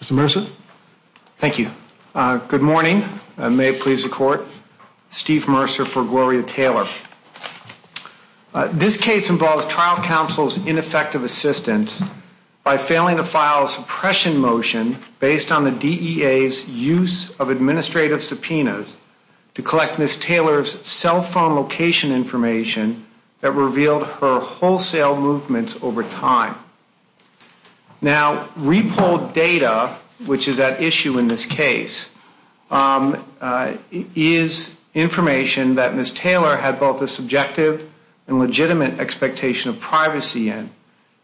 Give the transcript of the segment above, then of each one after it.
Mr. Mercer. Thank you. Good morning. May it please the court. Steve Mercer for Gloria Taylor. This case involves trial counsel's ineffective assistance by failing to file a suppression motion based on the DEA's use of administrative subpoenas to collect Ms. Taylor's cell phone location information that revealed her wholesale movements over time. Now, re-polled data, which is at issue in this case, is information that Ms. Taylor had both a subjective and legitimate expectation of privacy in.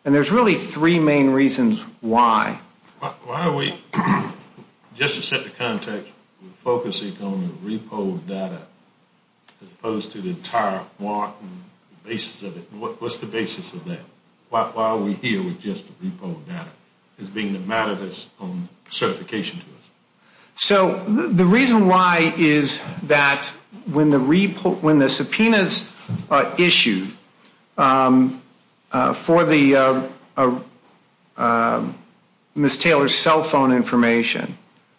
And there's really three main reasons why. Why are we, just to set the context, focusing on the re-polled data as opposed to the entire warrant and the basis of it? What's the basis of that? Why are we here with just the re-polled data as being the matter that's on certification to us? So, the reason why is that when the subpoenas issued for Ms. Taylor's cell phone information,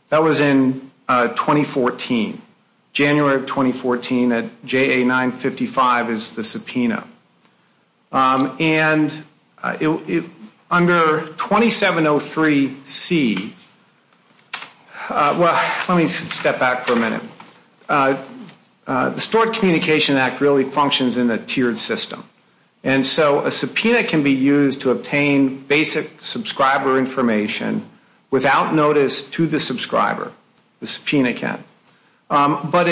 that was in 2014. January of 2014 at JA 955 is the subpoena. And under 2703C, well, let me step back for a minute. The Stored Communication Act really functions in a tiered system. And so a subpoena can be used to obtain basic subscriber information without notice to the subscriber. The subpoena can. But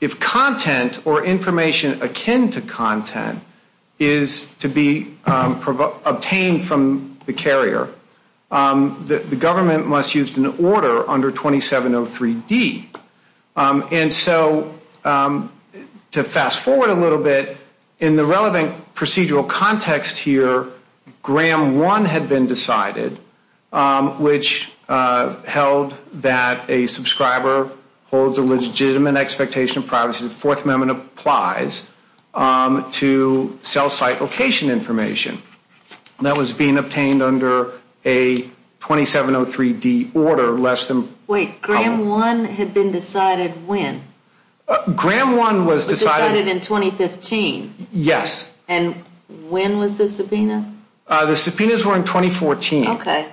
if content or information akin to content is to be obtained from the carrier, the government must use an order under 2703D. And so, to fast forward a little bit, in the relevant procedural context here, Gram 1 had been decided, which held that a subscriber holds a legitimate expectation of privacy. The Fourth Amendment applies to cell site location information. And that was being obtained under a 2703D order less than... Wait, Gram 1 had been decided when? Gram 1 was decided... Decided in 2015? Yes. And when was the subpoena? The subpoenas were in 2014. Okay.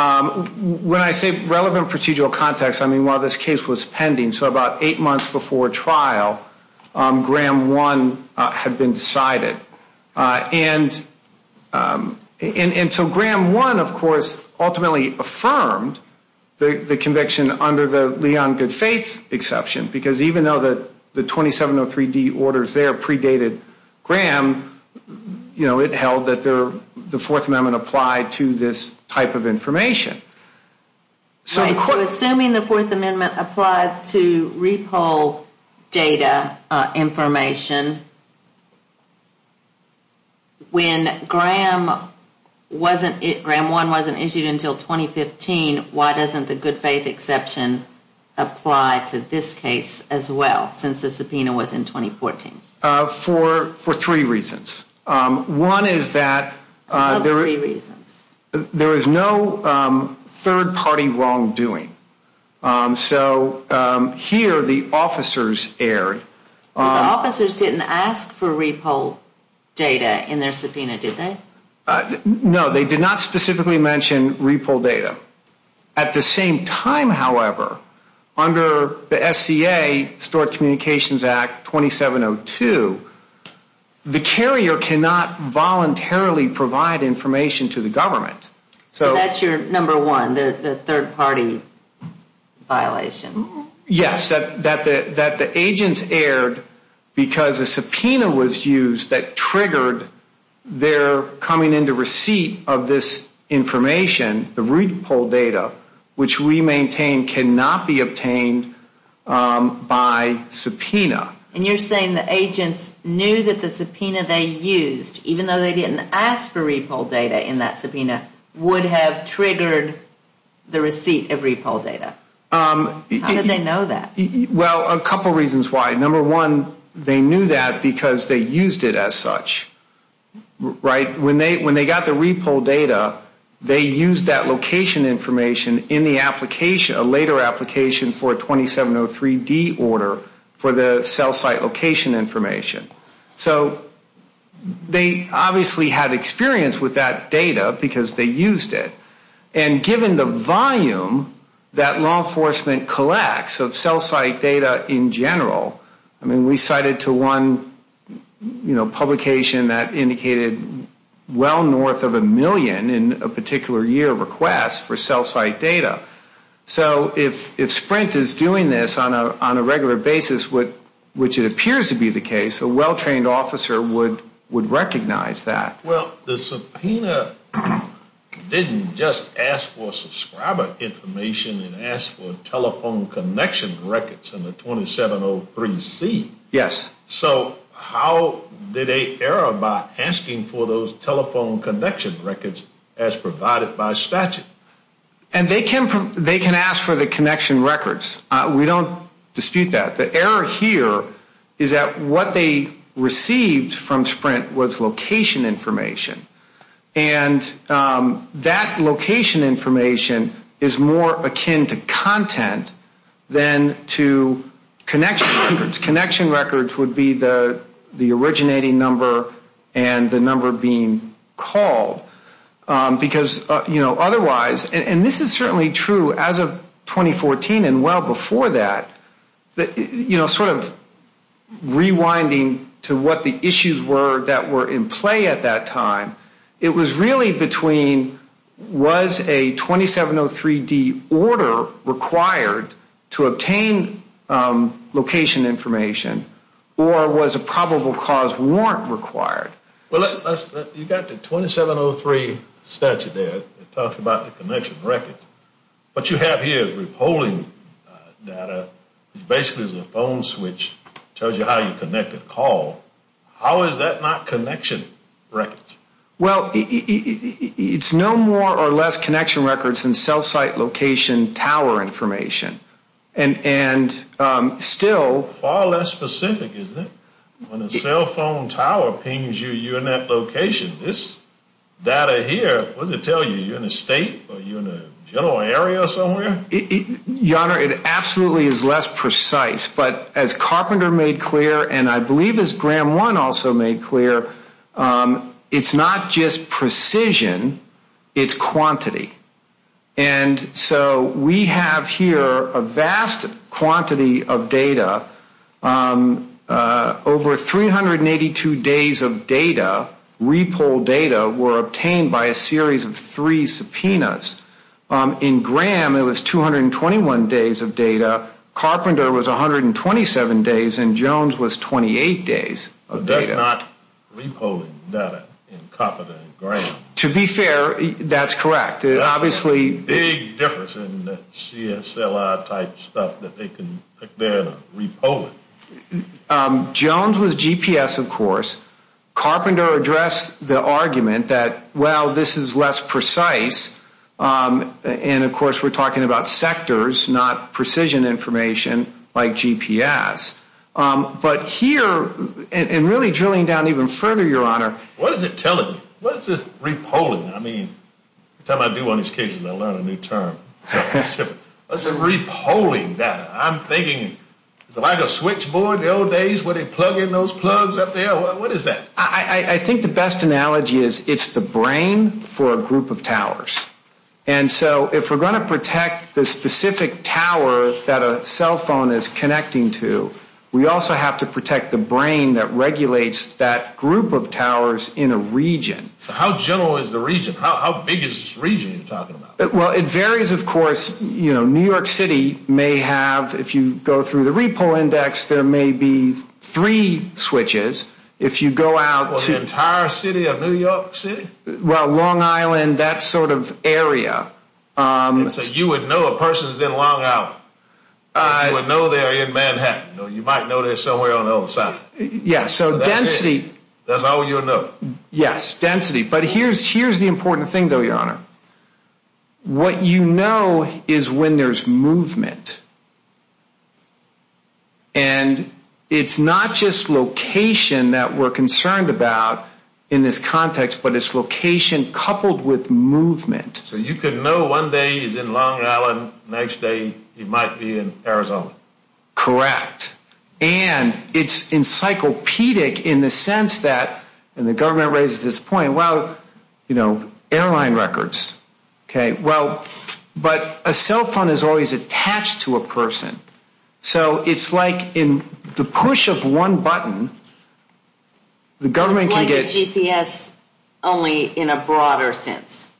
When I say relevant procedural context, I mean while this case was pending, so about eight months before trial, Gram 1 had been decided. And so Gram 1, of course, ultimately affirmed the conviction under the Leon Goodfaith exception, because even though the 2703D orders there predated Gram, you know, it held that the Fourth Amendment applied to this type of information. So assuming the Fourth Amendment applies to repo data information, when Gram 1 wasn't issued until 2015, why doesn't the Goodfaith exception apply to this case as well, since the subpoena was in 2014? For three reasons. What are the three reasons? There is no third-party wrongdoing. So here the officers erred. The officers didn't ask for repo data in their subpoena, did they? No, they did not specifically mention repo data. At the same time, however, under the SCA, Stored Communications Act 2702, the carrier cannot voluntarily provide information to the government. So that's your number one, the third-party violation. Yes, that the agents erred because a subpoena was used that triggered their coming into receipt of this information, the repo data, which we maintain cannot be obtained by subpoena. And you're saying the agents knew that the subpoena they used, even though they didn't ask for repo data in that subpoena, would have triggered the receipt of repo data. How did they know that? Well, a couple reasons why. Number one, they knew that because they used it as such, right? When they got the repo data, they used that location information in the application, a later application for a 2703D order for the cell site location information. So they obviously had experience with that data because they used it. And given the volume that law enforcement collects of cell site data in general, I mean, we cited to one publication that indicated well north of a million in a particular year request for cell site data. So if Sprint is doing this on a regular basis, which it appears to be the case, a well-trained officer would recognize that. Well, the subpoena didn't just ask for subscriber information. It asked for telephone connection records in the 2703C. Yes. So how did they err by asking for those telephone connection records as provided by statute? And they can ask for the connection records. We don't dispute that. The error here is that what they received from Sprint was location information. And that location information is more akin to content than to connection records. Connection records would be the originating number and the number being called. Because otherwise, and this is certainly true as of 2014 and well before that, sort of rewinding to what the issues were that were in play at that time, it was really between was a 2703D order required to obtain location information or was a probable cause warrant required? Well, you've got the 2703 statute there that talks about the connection records. What you have here is repolling data. It basically is a phone switch. It tells you how you connect a call. How is that not connection records? Well, it's no more or less connection records than cell site location tower information. And still... Far less specific, isn't it? When a cell phone tower pings you, you're in that location. This data here, what does it tell you? You're in a state or you're in a general area or somewhere? Your Honor, it absolutely is less precise. But as Carpenter made clear and I believe as Graham One also made clear, it's not just precision, it's quantity. And so we have here a vast quantity of data. Over 382 days of data, repolled data, were obtained by a series of three subpoenas. In Graham, it was 221 days of data. Carpenter was 127 days and Jones was 28 days of data. That's not repolling data in Carpenter and Graham. To be fair, that's correct. Obviously... Big difference in the CSLI type stuff that they can compare to repolling. Jones was GPS, of course. Carpenter addressed the argument that, well, this is less precise. And, of course, we're talking about sectors, not precision information like GPS. But here, and really drilling down even further, Your Honor... What is it telling you? What is this repolling? Every time I do one of these cases, I learn a new term. What's a repolling data? I'm thinking, is it like a switchboard in the old days where they plug in those plugs up there? What is that? I think the best analogy is it's the brain for a group of towers. And so if we're going to protect the specific tower that a cell phone is connecting to, we also have to protect the brain that regulates that group of towers in a region. So how general is the region? How big is this region you're talking about? Well, it varies, of course. New York City may have, if you go through the repoll index, there may be three switches. If you go out to... The entire city of New York City? Well, Long Island, that sort of area. So you would know a person is in Long Island. You would know they're in Manhattan. You might know they're somewhere on the other side. Yes. So density... That's all you would know. Yes, density. But here's the important thing, though, Your Honor. What you know is when there's movement. And it's not just location that we're concerned about in this context, but it's location coupled with movement. So you could know one day he's in Long Island, next day he might be in Arizona. Correct. And it's encyclopedic in the sense that, and the government raises this point, well, airline records. But a cell phone is always attached to a person. So it's like in the push of one button, the government can get... It's like a GPS, only in a broader sense.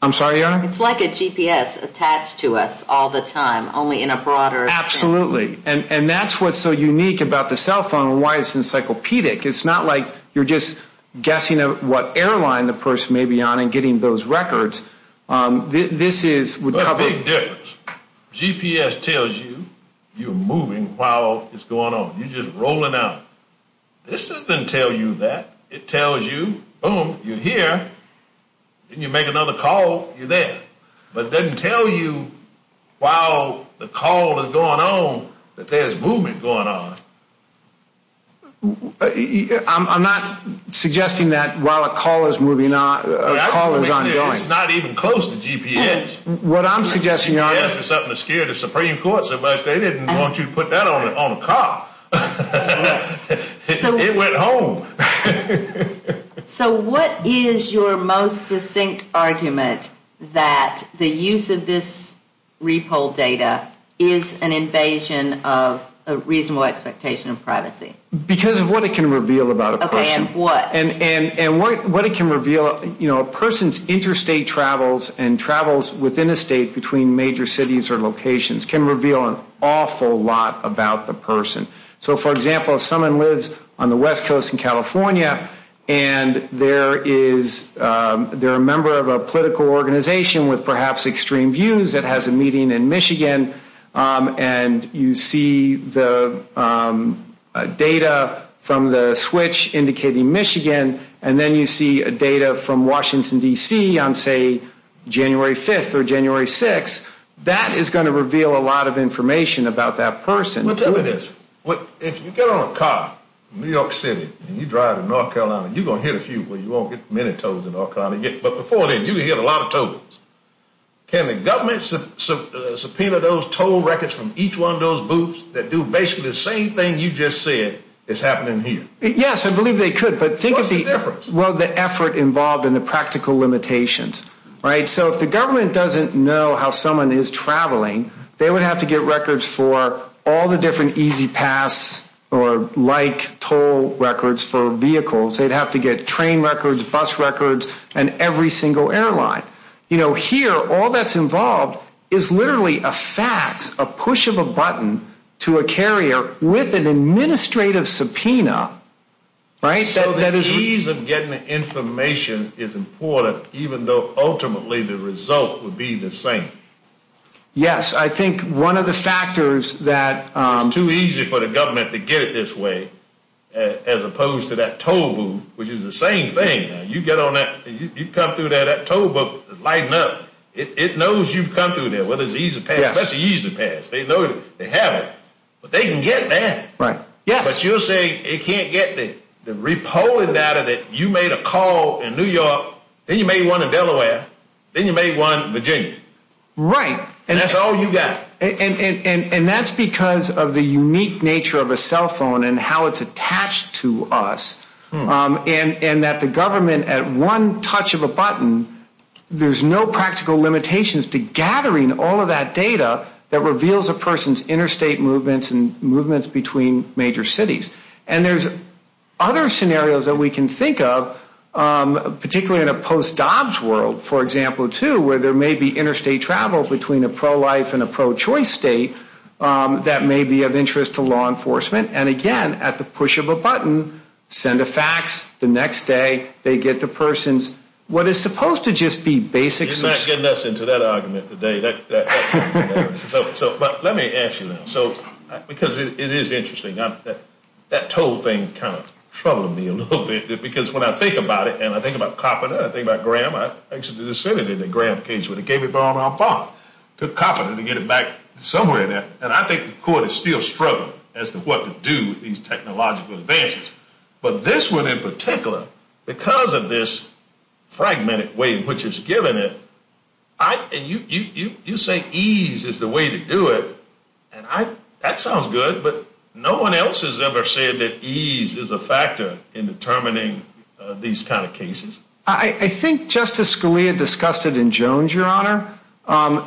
I'm sorry, Your Honor? It's like a GPS attached to us all the time, only in a broader sense. Absolutely. And that's what's so unique about the cell phone and why it's encyclopedic. It's not like you're just guessing what airline the person may be on and getting those records. This is... There's a big difference. GPS tells you you're moving while it's going on. You're just rolling out. This doesn't tell you that. It tells you, boom, you're here. Then you make another call, you're there. But it doesn't tell you while the call is going on that there's movement going on. I'm not suggesting that while a call is moving on, a call is ongoing. It's not even close to GPS. What I'm suggesting, Your Honor... GPS is something that scared the Supreme Court so much, they didn't want you to put that on a car. It went home. So what is your most succinct argument that the use of this repo data is an invasion of a reasonable expectation of privacy? Because of what it can reveal about a person. Okay, and what? And what it can reveal... A person's interstate travels and travels within a state between major cities or locations can reveal an awful lot about the person. So, for example, if someone lives on the West Coast in California and they're a member of a political organization with perhaps extreme views that has a meeting in Michigan, and you see the data from the switch indicating Michigan, and then you see data from Washington, D.C. on, say, January 5th or January 6th, that is going to reveal a lot of information about that person. Well, tell me this. If you get on a car in New York City and you drive to North Carolina, you're going to hit a few where you won't get many tolls in North Carolina, but before then you're going to hit a lot of tolls. Can the government subpoena those toll records from each one of those booths that do basically the same thing you just said is happening here? Yes, I believe they could, but think of the... What's the difference? Well, the effort involved and the practical limitations, right? So if the government doesn't know how someone is traveling, they would have to get records for all the different easy pass or like toll records for vehicles. They'd have to get train records, bus records, and every single airline. You know, here all that's involved is literally a fax, a push of a button to a carrier with an administrative subpoena, right? So the ease of getting the information is important, even though ultimately the result would be the same. Yes, I think one of the factors that... It's too easy for the government to get it this way as opposed to that toll booth, which is the same thing. You come through there, that toll booth is lighting up. It knows you've come through there. Well, there's an easy pass. That's an easy pass. They know they have it, but they can get there. Right, yes. But you're saying it can't get there. The repolling data that you made a call in New York, then you made one in Delaware, then you made one in Virginia. Right. And that's all you got. And that's because of the unique nature of a cell phone and how it's attached to us, and that the government at one touch of a button, there's no practical limitations to gathering all of that data that reveals a person's interstate movements and movements between major cities. And there's other scenarios that we can think of, particularly in a post-dobbs world, for example, too, where there may be interstate travel between a pro-life and a pro-choice state that may be of interest to law enforcement. And, again, at the push of a button, send a fax, the next day they get the person's what is supposed to just be basic. You're not getting us into that argument today. But let me ask you this, because it is interesting. That toll thing kind of troubled me a little bit, because when I think about it, and I think about Coppola, I think about Graham. I actually just sent it in the Graham case, but it gave it back to Coppola to get it back somewhere in there. And I think the court is still struggling as to what to do with these technological advances. But this one in particular, because of this fragmented way in which it's given it, and you say ease is the way to do it. That sounds good, but no one else has ever said that ease is a factor in determining these kind of cases. I think Justice Scalia discussed it in Jones, Your Honor,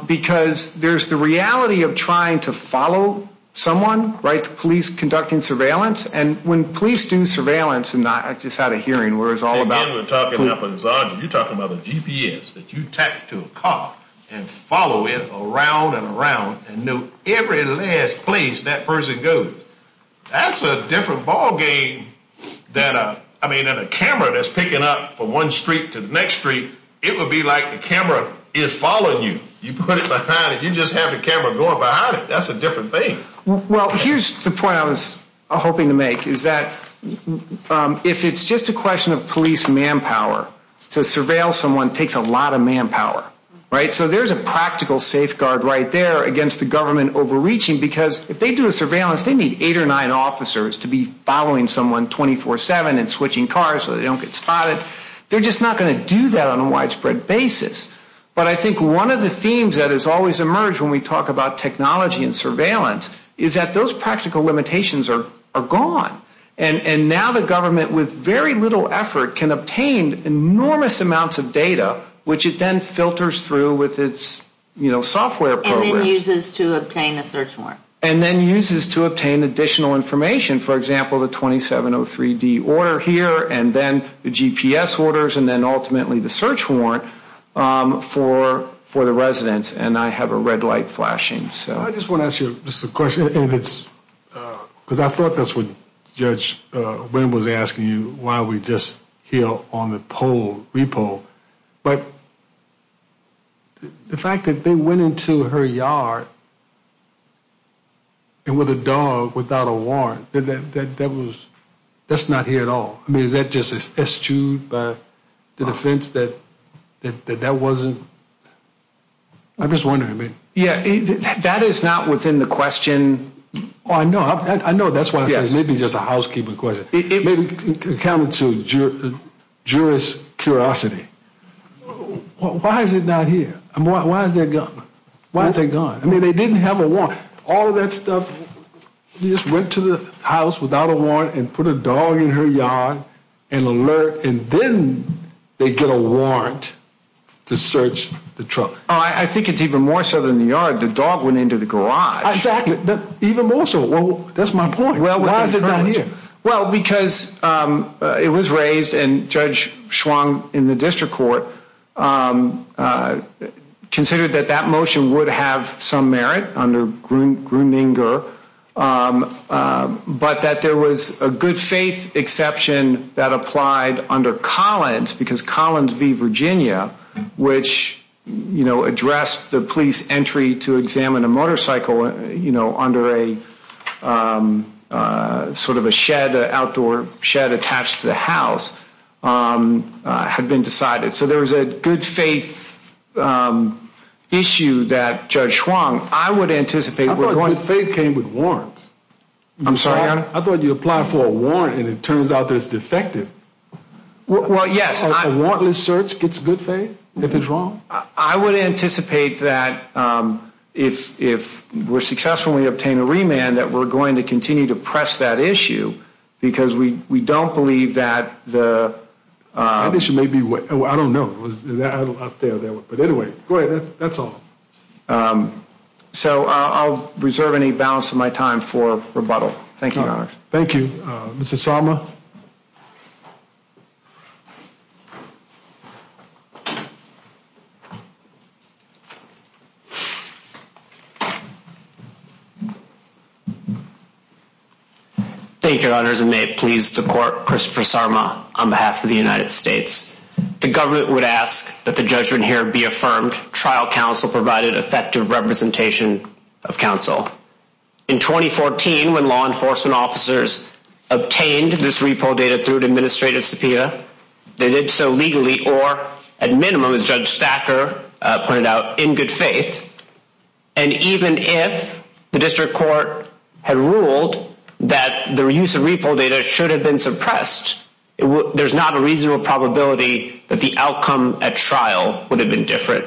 because there's the reality of trying to follow someone, right, the police conducting surveillance. And when police do surveillance, and I just had a hearing where it was all about... So, again, we're talking about, you're talking about a GPS that you attach to a car and follow it around and around and know every last place that person goes. That's a different ballgame than a camera that's picking up from one street to the next street. It would be like the camera is following you. You put it behind it. You just have the camera going behind it. That's a different thing. Well, here's the point I was hoping to make, is that if it's just a question of police manpower, to surveil someone takes a lot of manpower, right? So there's a practical safeguard right there against the government overreaching, because if they do a surveillance, they need eight or nine officers to be following someone 24-7 and switching cars so they don't get spotted. They're just not going to do that on a widespread basis. But I think one of the themes that has always emerged when we talk about technology and surveillance is that those practical limitations are gone. And now the government, with very little effort, can obtain enormous amounts of data, which it then filters through with its software program. And then uses to obtain a search warrant. And then uses to obtain additional information. For example, the 2703D order here, and then the GPS orders, and then ultimately the search warrant for the residents. And I have a red light flashing. I just want to ask you just a question, because I thought that's what Judge Wynn was asking you while we were just here on the poll, repo. But the fact that they went into her yard and with a dog without a warrant, that's not here at all. I mean, is that just eschewed by the defense that that wasn't? I'm just wondering. Yeah, that is not within the question. Oh, I know. I know. That's why I said it may be just a housekeeping question. It may be accounted to jurors' curiosity. Why is it not here? Why is that gone? Why is that gone? I mean, they didn't have a warrant. All of that stuff, you just went to the house without a warrant and put a dog in her yard and alert, and then they get a warrant to search the truck. I think it's even more so than the yard. The dog went into the garage. Exactly. Even more so. That's my point. Why is it not here? Well, because it was raised, and Judge Schwong in the district court considered that that motion would have some merit under Grueninger, but that there was a good faith exception that applied under Collins because Collins v. Virginia, which, you know, addressed the police entry to examine a motorcycle, you know, under a sort of a shed, an outdoor shed attached to the house, had been decided. So there was a good faith issue that Judge Schwong, I would anticipate. I thought good faith came with warrants. I'm sorry? I thought you applied for a warrant, and it turns out that it's defective. Well, yes. A warrantless search gets good faith if it's wrong. I would anticipate that if we're successful and we obtain a remand, that we're going to continue to press that issue because we don't believe that the ‑‑ That issue may be ‑‑ I don't know. But anyway, go ahead. That's all. So I'll reserve any balance of my time for rebuttal. Thank you, Your Honor. Thank you. Mr. Sarma? Thank you, Your Honors. And may it please the court, Christopher Sarma on behalf of the United States. The government would ask that the judgment here be affirmed. Trial counsel provided effective representation of counsel. In 2014, when law enforcement officers obtained this repo data through an administrative subpoena, they did so legally or at minimum, as Judge Stacker pointed out, in good faith. And even if the district court had ruled that the use of repo data should have been suppressed, there's not a reasonable probability that the outcome at trial would have been different.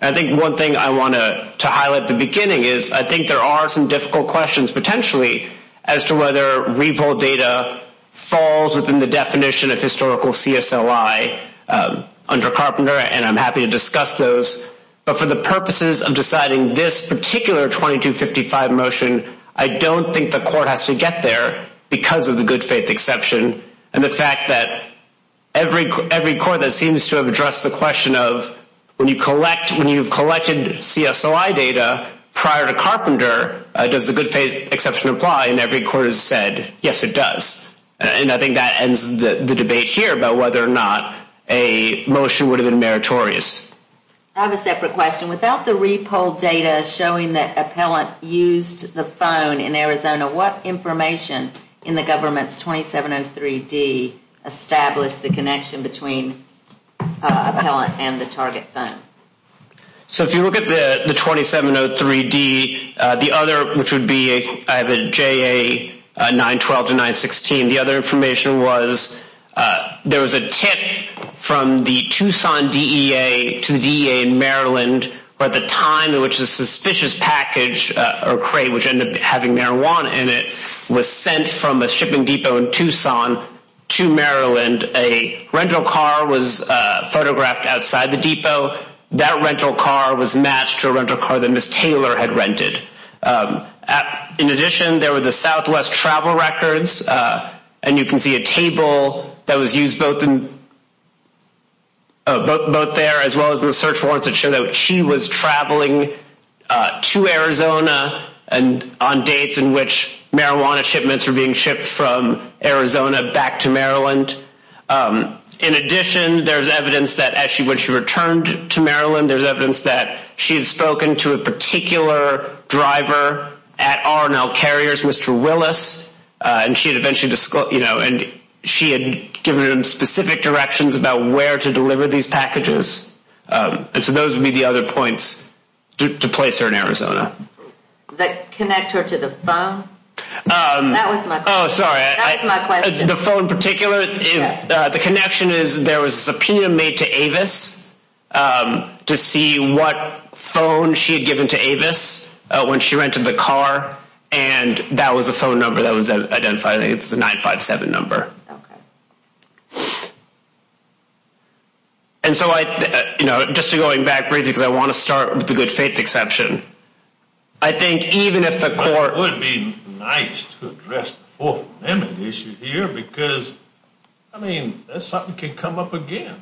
I think one thing I want to highlight at the beginning is I think there are some difficult questions potentially as to whether repo data falls within the definition of historical CSLI under Carpenter, and I'm happy to discuss those. But for the purposes of deciding this particular 2255 motion, I don't think the court has to get there because of the good faith exception and the fact that every court that seems to have addressed the question of when you've collected CSLI data prior to Carpenter, does the good faith exception apply? And every court has said, yes, it does. And I think that ends the debate here about whether or not a motion would have been meritorious. I have a separate question. Without the repo data showing that appellant used the phone in Arizona, what information in the government's 2703D established the connection between appellant and the target phone? So if you look at the 2703D, the other, which would be JA 912 to 916, and the other information was there was a tip from the Tucson DEA to the DEA in Maryland. By the time in which the suspicious package or crate, which ended up having marijuana in it, was sent from a shipping depot in Tucson to Maryland, a rental car was photographed outside the depot. That rental car was matched to a rental car that Ms. Taylor had rented. In addition, there were the Southwest travel records, and you can see a table that was used both there as well as the search warrants that showed that she was traveling to Arizona on dates in which marijuana shipments were being shipped from Arizona back to Maryland. In addition, there's evidence that when she returned to Maryland, there's evidence that she had spoken to a particular driver at R&L Carriers, Mr. Willis, and she had given him specific directions about where to deliver these packages. And so those would be the other points to place her in Arizona. The connector to the phone? That was my question. The phone in particular, the connection is there was a subpoena made to Avis to see what phone she had given to Avis when she rented the car, and that was the phone number that was identified. I think it's the 957 number. And so I, you know, just going back briefly because I want to start with the good faith exception. I think even if the court It would be nice to address the Fourth Amendment issue here because, I mean, something can come up again.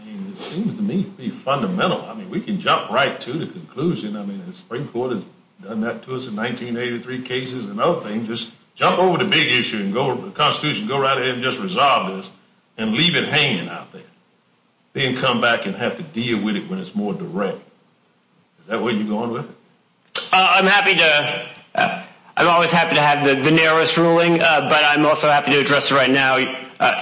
I mean, it seems to me to be fundamental. I mean, we can jump right to the conclusion. I mean, the Supreme Court has done that to us in 1983 cases and other things. Just jump over the big issue and go to the Constitution and go right ahead and just resolve this and leave it hanging out there. Then come back and have to deal with it when it's more direct. Is that where you're going with it? I'm happy to. I'm always happy to have the narrowest ruling, but I'm also happy to address it right now,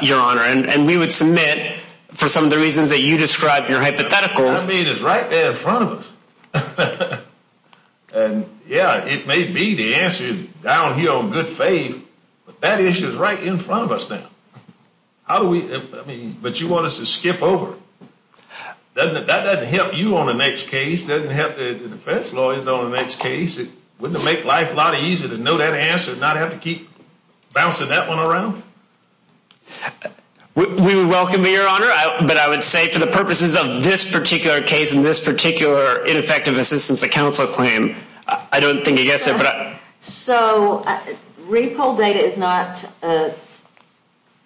Your Honor. And we would submit for some of the reasons that you described in your hypotheticals. I mean, it's right there in front of us. And yeah, it may be the answer down here on good faith, but that issue is right in front of us now. How do we, I mean, but you want us to skip over. That doesn't help you on the next case. Doesn't help the defense lawyers on the next case. Wouldn't it make life a lot easier to know that answer and not have to keep bouncing that one around? We would welcome it, Your Honor, but I would say for the purposes of this particular case and this particular ineffective assistance to counsel claim, I don't think it gets there. So repo data is not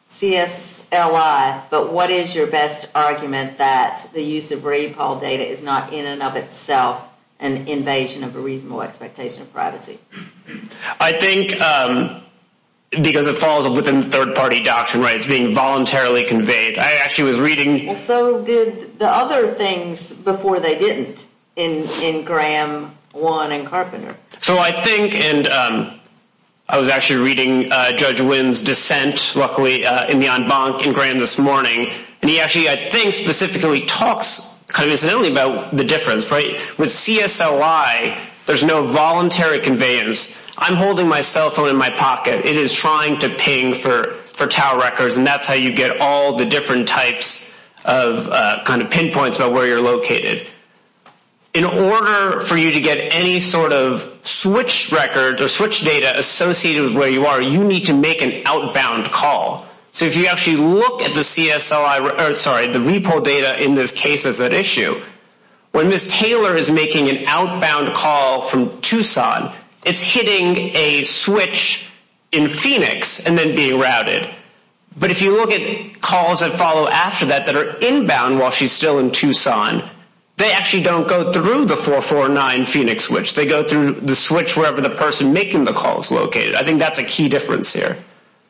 CSLI, but what is your best argument that the use of repo data is not in and of itself an invasion of a reasonable expectation of privacy? I think because it falls within third party doctrine rights being voluntarily conveyed. I actually was reading. And so did the other things before they didn't in Graham one and Carpenter. So I think and I was actually reading Judge Wynn's dissent, luckily, in the en banc in Graham this morning. And he actually, I think, specifically talks kind of incidentally about the difference. Right. With CSLI, there's no voluntary conveyance. I'm holding my cell phone in my pocket. It is trying to ping for for tower records. And that's how you get all the different types of kind of pinpoints about where you're located. In order for you to get any sort of switch record or switch data associated with where you are, you need to make an outbound call. So if you actually look at the CSLI, sorry, the repo data in this case is at issue. When Miss Taylor is making an outbound call from Tucson, it's hitting a switch in Phoenix and then being routed. But if you look at calls that follow after that, that are inbound while she's still in Tucson, they actually don't go through the 449 Phoenix, which they go through the switch wherever the person making the call is located. I think that's a key difference here.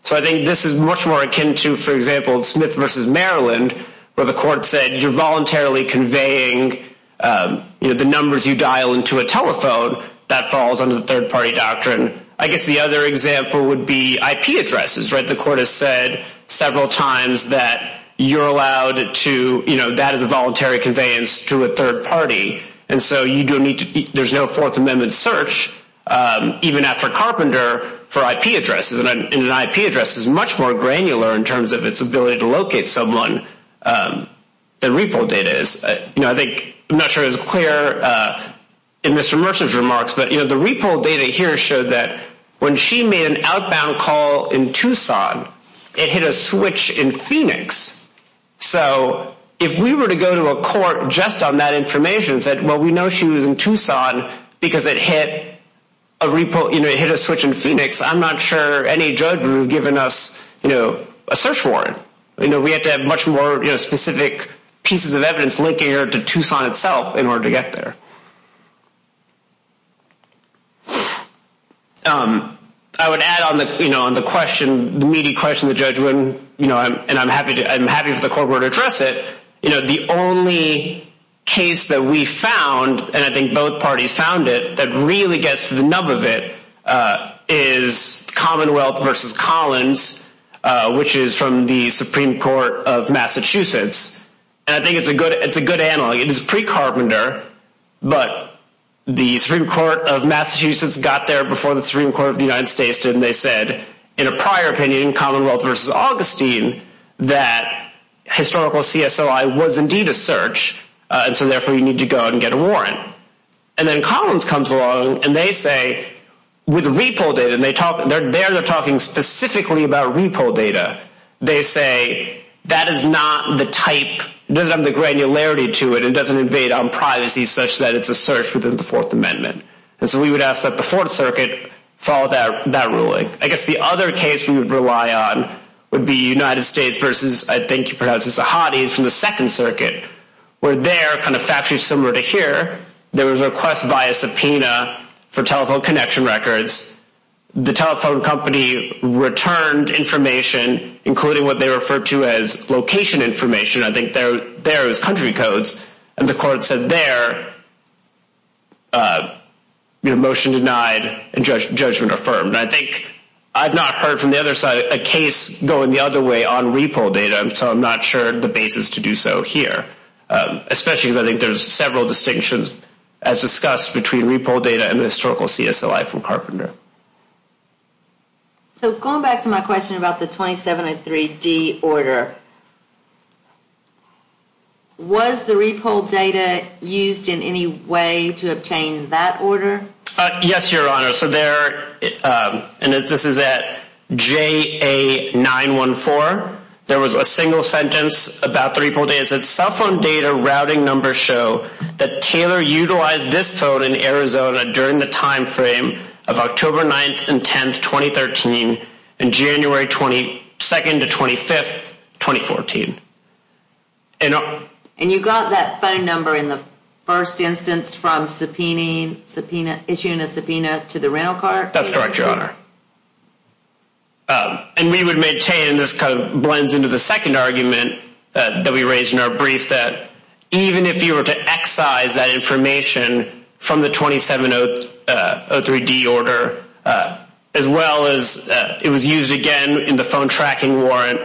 So I think this is much more akin to, for example, Smith versus Maryland, where the court said you're voluntarily conveying the numbers you dial into a telephone that falls under the third party doctrine. I guess the other example would be IP addresses. The court has said several times that you're allowed to – that is a voluntary conveyance to a third party. And so you don't need to – there's no Fourth Amendment search, even after Carpenter, for IP addresses. And an IP address is much more granular in terms of its ability to locate someone than repo data is. I'm not sure it was clear in Mr. Mercer's remarks, but the repo data here showed that when she made an outbound call in Tucson, it hit a switch in Phoenix. So if we were to go to a court just on that information and said, well, we know she was in Tucson because it hit a repo – it hit a switch in Phoenix, I'm not sure any judge would have given us a search warrant. We have to have much more specific pieces of evidence linking her to Tucson itself in order to get there. I would add on the question, the meaty question the judge wouldn't – and I'm happy for the court to address it. The only case that we found, and I think both parties found it, that really gets to the nub of it is Commonwealth v. Collins, which is from the Supreme Court of Massachusetts. And I think it's a good analog. It is pre-Carpenter, but the Supreme Court of Massachusetts got there before the Supreme Court of the United States did, and they said, in a prior opinion, Commonwealth v. Augustine, that historical CSOI was indeed a search, and so therefore you need to go and get a warrant. And then Collins comes along, and they say, with repo data – and there they're talking specifically about repo data – they say, that is not the type – doesn't have the granularity to it. It doesn't invade on privacy such that it's a search within the Fourth Amendment. And so we would ask that the Fourth Circuit follow that ruling. I guess the other case we would rely on would be United States v. I think you pronounce this, Ahadis, from the Second Circuit, where they're kind of factually similar to here. There was a request via subpoena for telephone connection records. The telephone company returned information, including what they referred to as location information. I think there it was country codes, and the court said there, motion denied and judgment affirmed. I think I've not heard from the other side a case going the other way on repo data, so I'm not sure the basis to do so here, especially because I think there's several distinctions as discussed between repo data and the historical CSOI from Carpenter. So going back to my question about the 2703D order, was the repo data used in any way to obtain that order? Yes, Your Honor. So there, and this is at JA914, there was a single sentence about the repo data. It said cell phone data routing numbers show that Taylor utilized this phone in Arizona during the time frame of October 9th and 10th, 2013, and January 22nd to 25th, 2014. And you got that phone number in the first instance from subpoena, issuing a subpoena to the rental car? That's correct, Your Honor. And we would maintain, this kind of blends into the second argument that we raised in our brief, that even if you were to excise that information from the 2703D order, as well as it was used again in the phone tracking warrant,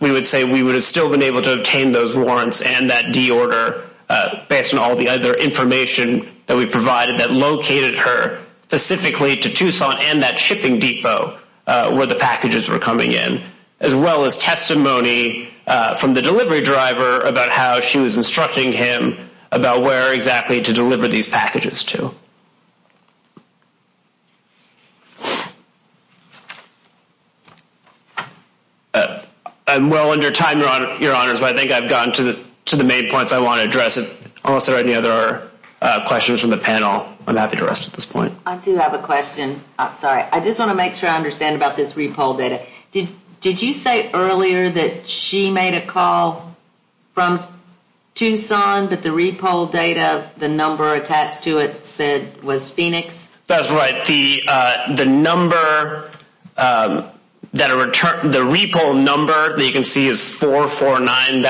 we would say we would have still been able to obtain those warrants and that D order based on all the other information that we provided that located her specifically to Tucson and that shipping depot where the packages were coming in, as well as testimony from the delivery driver about how she was instructing him about where exactly to deliver these packages to. I'm well under time, Your Honors, but I think I've gotten to the main points I want to address. Unless there are any other questions from the panel, I'm happy to rest at this point. I do have a question. I'm sorry. I just want to make sure I understand about this repo data. Did you say earlier that she made a call from Tucson, but the repo data, the number attached to it said was Phoenix? That's right. The number, the repo number that you can see is 449.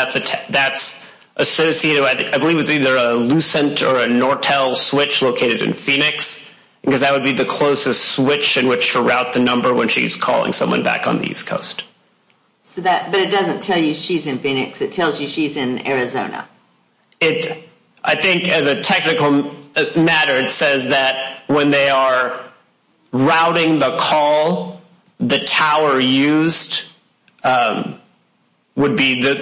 That's associated, I believe it's either a Lucent or a Nortel switch located in Phoenix, because that would be the closest switch in which to route the number when she's calling someone back on the East Coast. But it doesn't tell you she's in Phoenix. It tells you she's in Arizona. I think as a technical matter, it says that when they are routing the call, the tower used would be, or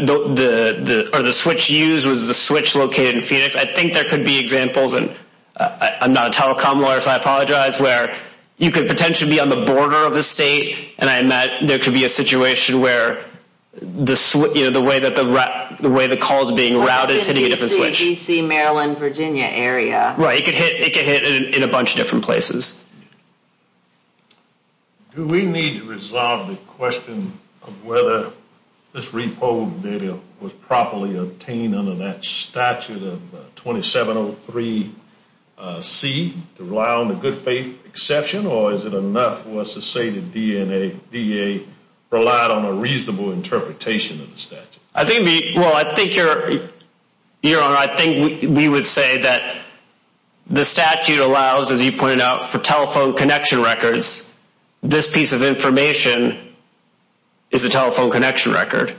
the switch used was the switch located in Phoenix. I think there could be examples, and I'm not a telecom lawyer, so I apologize, where you could potentially be on the border of the state, and there could be a situation where the way the call is being routed is hitting a different switch. DC, DC, Maryland, Virginia area. Right. It could hit in a bunch of different places. Do we need to resolve the question of whether this repo data was properly obtained under that statute of 2703C to rely on the good faith exception, or is it enough for us to say the DEA relied on a reasonable interpretation of the statute? Well, I think, Your Honor, I think we would say that the statute allows, as you pointed out, for telephone connection records, this piece of information is a telephone connection record.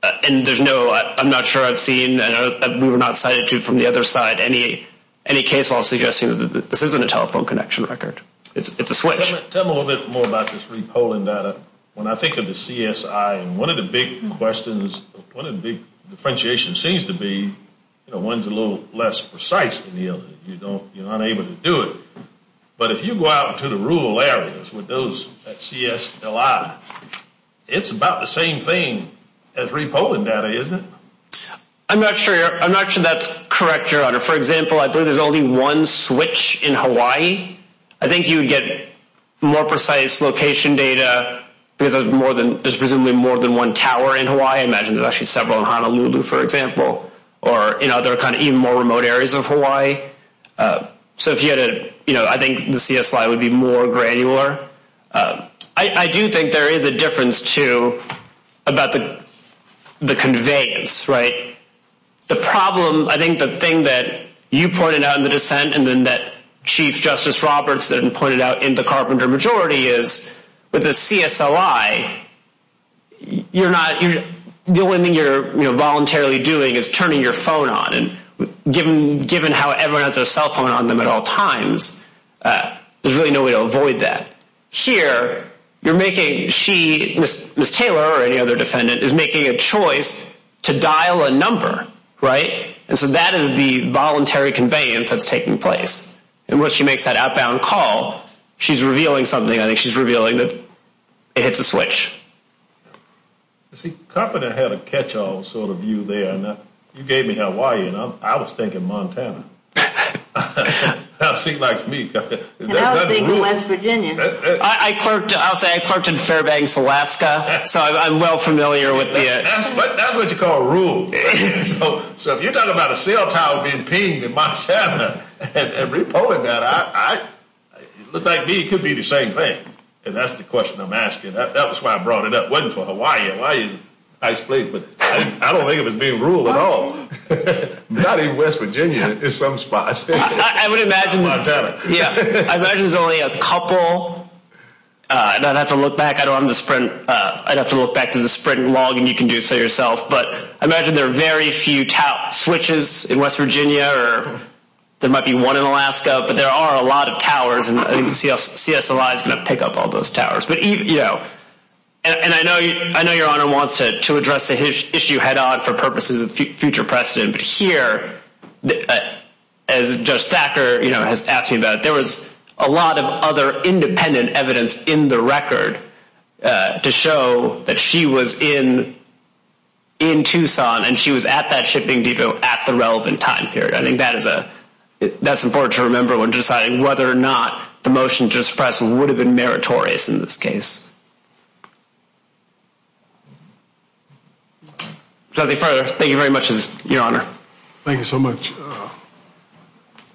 And there's no, I'm not sure I've seen, and we were not cited to from the other side, any case law suggesting that this isn't a telephone connection record. It's a switch. Tell me a little bit more about this repolling data. When I think of the CSI, one of the big questions, one of the big differentiations seems to be, you know, one's a little less precise than the other. You're unable to do it. But if you go out into the rural areas with those, that CSLI, it's about the same thing as repolling data, isn't it? I'm not sure that's correct, Your Honor. For example, I believe there's only one switch in Hawaii. I think you would get more precise location data because there's presumably more than one tower in Hawaii. I imagine there's actually several in Honolulu, for example, or in other kind of even more remote areas of Hawaii. So if you had a, you know, I think the CSI would be more granular. I do think there is a difference, too, about the conveyance, right? The problem, I think the thing that you pointed out in the dissent and then that Chief Justice Roberts pointed out in the Carpenter Majority is with the CSLI, you're not – the only thing you're voluntarily doing is turning your phone on. And given how everyone has their cell phone on them at all times, there's really no way to avoid that. Here, you're making – she, Ms. Taylor or any other defendant, is making a choice to dial a number, right? And so that is the voluntary conveyance that's taking place. And when she makes that outbound call, she's revealing something. I think she's revealing that it hits a switch. See, Carpenter had a catch-all sort of view there. You gave me Hawaii, and I was thinking Montana. That was big in West Virginia. I'll say I clerked in Fairbanks, Alaska, so I'm well familiar with the – That's what you call a rule. So if you're talking about a cell tower being pinged in Montana and repolling that, it looked like to me it could be the same thing. And that's the question I'm asking. That was why I brought it up. It wasn't for Hawaii. Hawaii is a nice place, but I don't think it was being ruled at all. Not even West Virginia. It's some spot. I would imagine – Montana. Yeah. I imagine there's only a couple. I'd have to look back. I don't have the sprint. I'd have to look back through the sprint log, and you can do so yourself. But I imagine there are very few switches in West Virginia, or there might be one in Alaska. But there are a lot of towers, and CSLI is going to pick up all those towers. And I know Your Honor wants to address the issue head-on for purposes of future precedent. But here, as Judge Thacker has asked me about, there was a lot of other independent evidence in the record to show that she was in Tucson and she was at that shipping depot at the relevant time period. I think that's important to remember when deciding whether or not the motion just pressed would have been meritorious in this case. If there's nothing further, thank you very much, Your Honor. Thank you so much.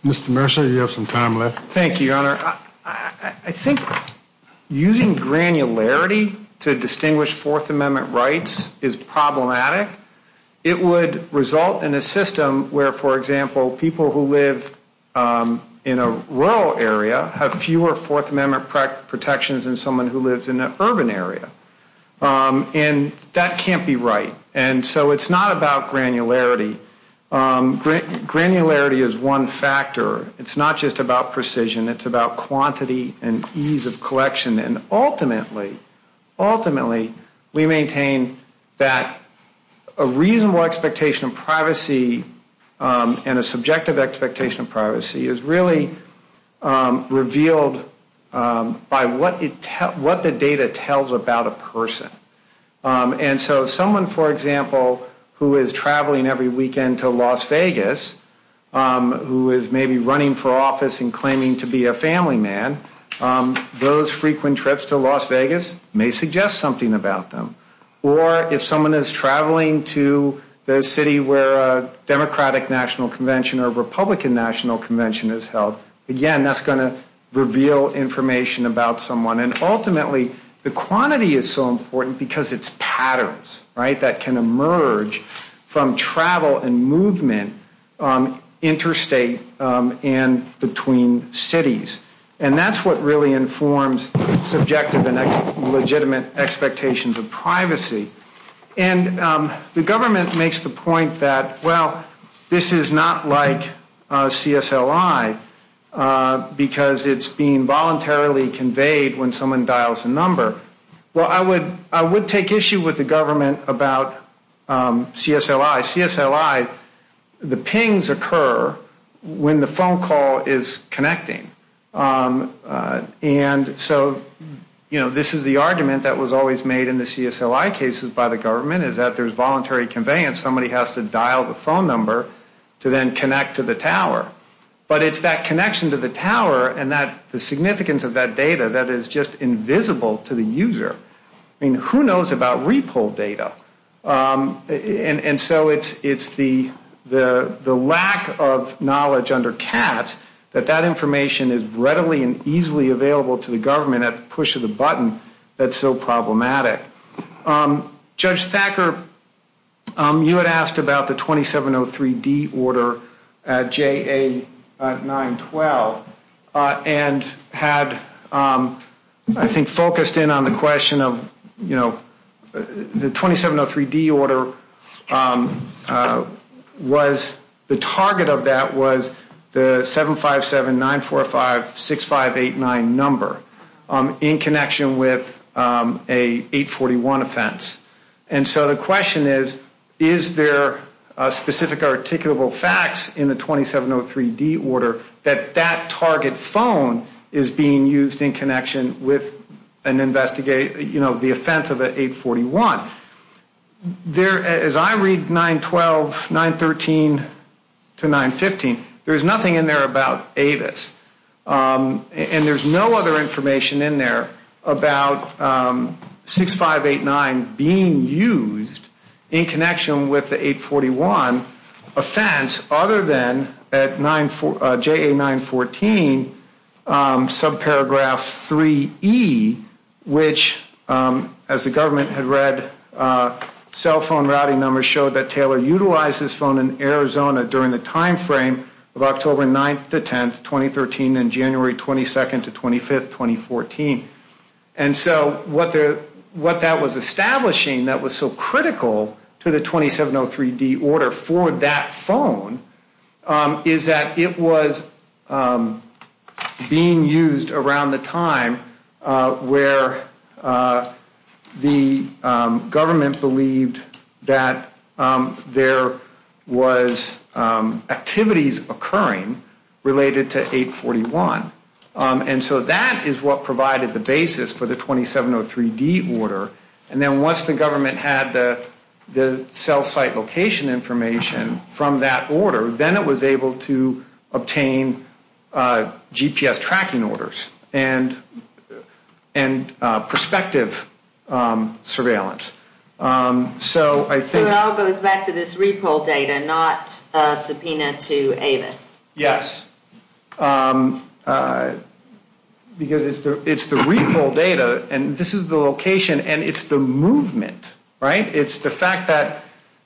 Mr. Mercer, you have some time left. Thank you, Your Honor. I think using granularity to distinguish Fourth Amendment rights is problematic. It would result in a system where, for example, people who live in a rural area have fewer Fourth Amendment protections than someone who lives in an urban area. And that can't be right. And so it's not about granularity. Granularity is one factor. It's not just about precision. It's about quantity and ease of collection. Ultimately, we maintain that a reasonable expectation of privacy and a subjective expectation of privacy is really revealed by what the data tells about a person. And so someone, for example, who is traveling every weekend to Las Vegas, who is maybe running for office and claiming to be a family man, those frequent trips to Las Vegas may suggest something about them. Or if someone is traveling to the city where a Democratic National Convention or a Republican National Convention is held, again, that's going to reveal information about someone. And ultimately, the quantity is so important because it's patterns, right, that can emerge from travel and movement interstate and between cities. And that's what really informs subjective and legitimate expectations of privacy. And the government makes the point that, well, this is not like CSLI because it's being voluntarily conveyed when someone dials a number. Well, I would take issue with the government about CSLI. The pings occur when the phone call is connecting. And so, you know, this is the argument that was always made in the CSLI cases by the government is that there's voluntary conveyance. Somebody has to dial the phone number to then connect to the tower. But it's that connection to the tower and the significance of that data that is just invisible to the user. I mean, who knows about repo data? And so it's the lack of knowledge under CAT that that information is readily and easily available to the government at the push of a button that's so problematic. Judge Thacker, you had asked about the 2703D order at JA-912 and had, I think, focused in on the question of, you know, the 2703D order was the target of that was the 757-945-6589 number in connection with a 841 offense. And so the question is, is there specific articulable facts in the 2703D order that that target phone is being used in connection with an investigation, you know, the offense of an 841? There, as I read 912, 913 to 915, there's nothing in there about Avis. And there's no other information in there about 6589 being used in connection with the 841 offense other than at JA-914 subparagraph 3E, which, as the government had read, cell phone routing numbers showed that Taylor utilized this phone in Arizona during the timeframe of October 9th to 10th, 2013, and January 22nd to 25th, 2014. And so what that was establishing that was so critical to the 2703D order for that phone is that it was being used around the time where the government believed that there was activities occurring related to 841. And so that is what provided the basis for the 2703D order. And then once the government had the cell site location information from that order, then it was able to obtain GPS tracking orders and prospective surveillance. So I think... So it all goes back to this repo data, not a subpoena to Avis. Yes. Because it's the repo data, and this is the location, and it's the movement, right? It's the fact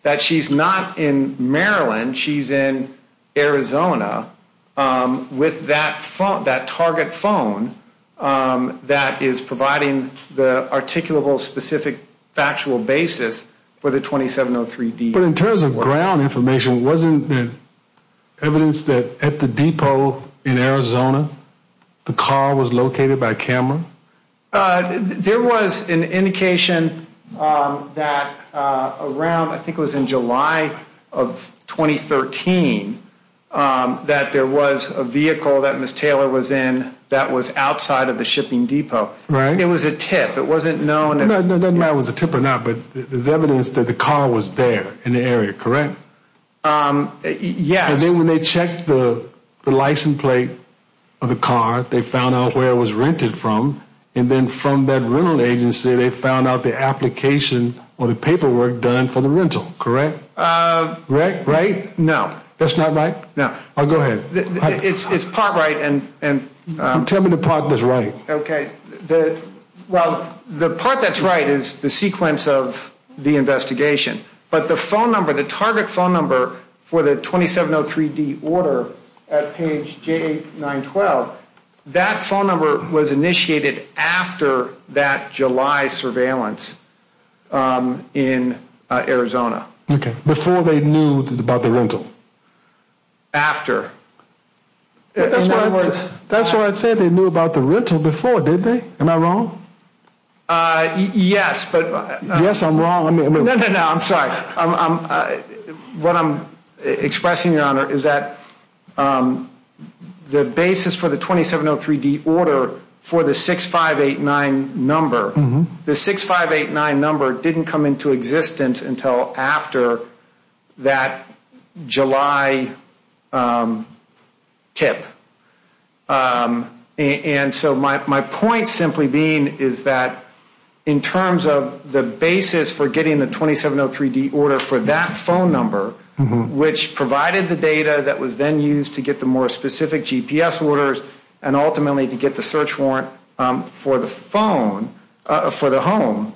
that she's not in Maryland. She's in Arizona with that target phone that is providing the articulable, specific, factual basis for the 2703D order. But in terms of ground information, wasn't there evidence that at the depot in Arizona, the car was located by camera? There was an indication that around, I think it was in July of 2013, that there was a vehicle that Ms. Taylor was in that was outside of the shipping depot. Right. It was a tip. It doesn't matter if it was a tip or not, but there's evidence that the car was there in the area, correct? Yes. And then when they checked the license plate of the car, they found out where it was rented from. And then from that rental agency, they found out the application or the paperwork done for the rental, correct? Right? No. That's not right? No. Go ahead. It's part right and... Tell me the part that's right. Okay. Well, the part that's right is the sequence of the investigation. But the phone number, the target phone number for the 2703D order at page J912, that phone number was initiated after that July surveillance in Arizona. Okay. Before they knew about the rental? After. That's what I said they knew about the rental before, didn't they? Am I wrong? Yes, but... Yes, I'm wrong. No, no, no. I'm sorry. What I'm expressing, Your Honor, is that the basis for the 2703D order for the 6589 number, the 6589 number didn't come into existence until after that July tip. And so my point simply being is that in terms of the basis for getting the 2703D order for that phone number, which provided the data that was then used to get the more specific GPS orders and ultimately to get the search warrant for the phone, for the home,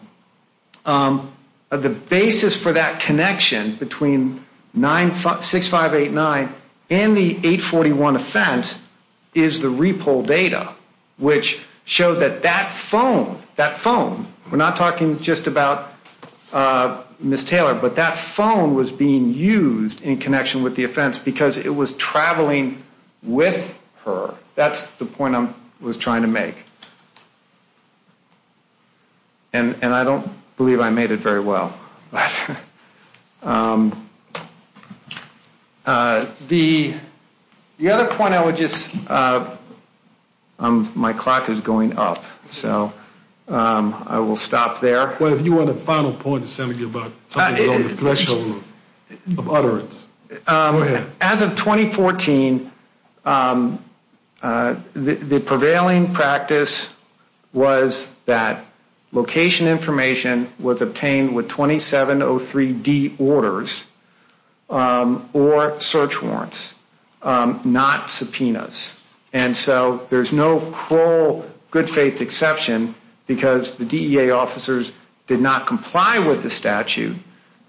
the basis for that connection between 6589 and the 841 offense is the repo data, which showed that that phone, that phone, we're not talking just about Ms. Taylor, but that phone was being used in connection with the offense because it was traveling with her. That's the point I was trying to make. And I don't believe I made it very well. The other point I would just, my clock is going up, so I will stop there. Well, if you want a final point, Senator, about the threshold of utterance. As of 2014, the prevailing practice was that location information was obtained with 2703D orders or search warrants, not subpoenas. And so there's no cruel good faith exception because the DEA officers did not comply with the statute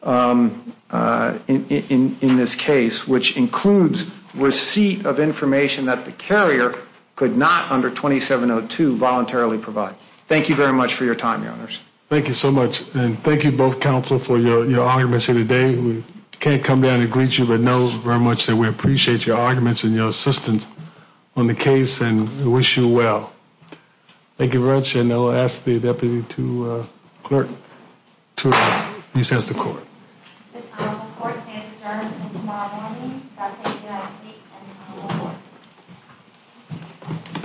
in this case, which includes receipt of information that the carrier could not under 2702 voluntarily provide. Thank you very much for your time, your honors. Thank you so much. And thank you both, counsel, for your arguments here today. We can't come down and greet you, but know very much that we appreciate your arguments and your assistance on the case and wish you well. Thank you very much. And I'll ask the deputy to clerk to recess the court. The court stands adjourned until tomorrow morning.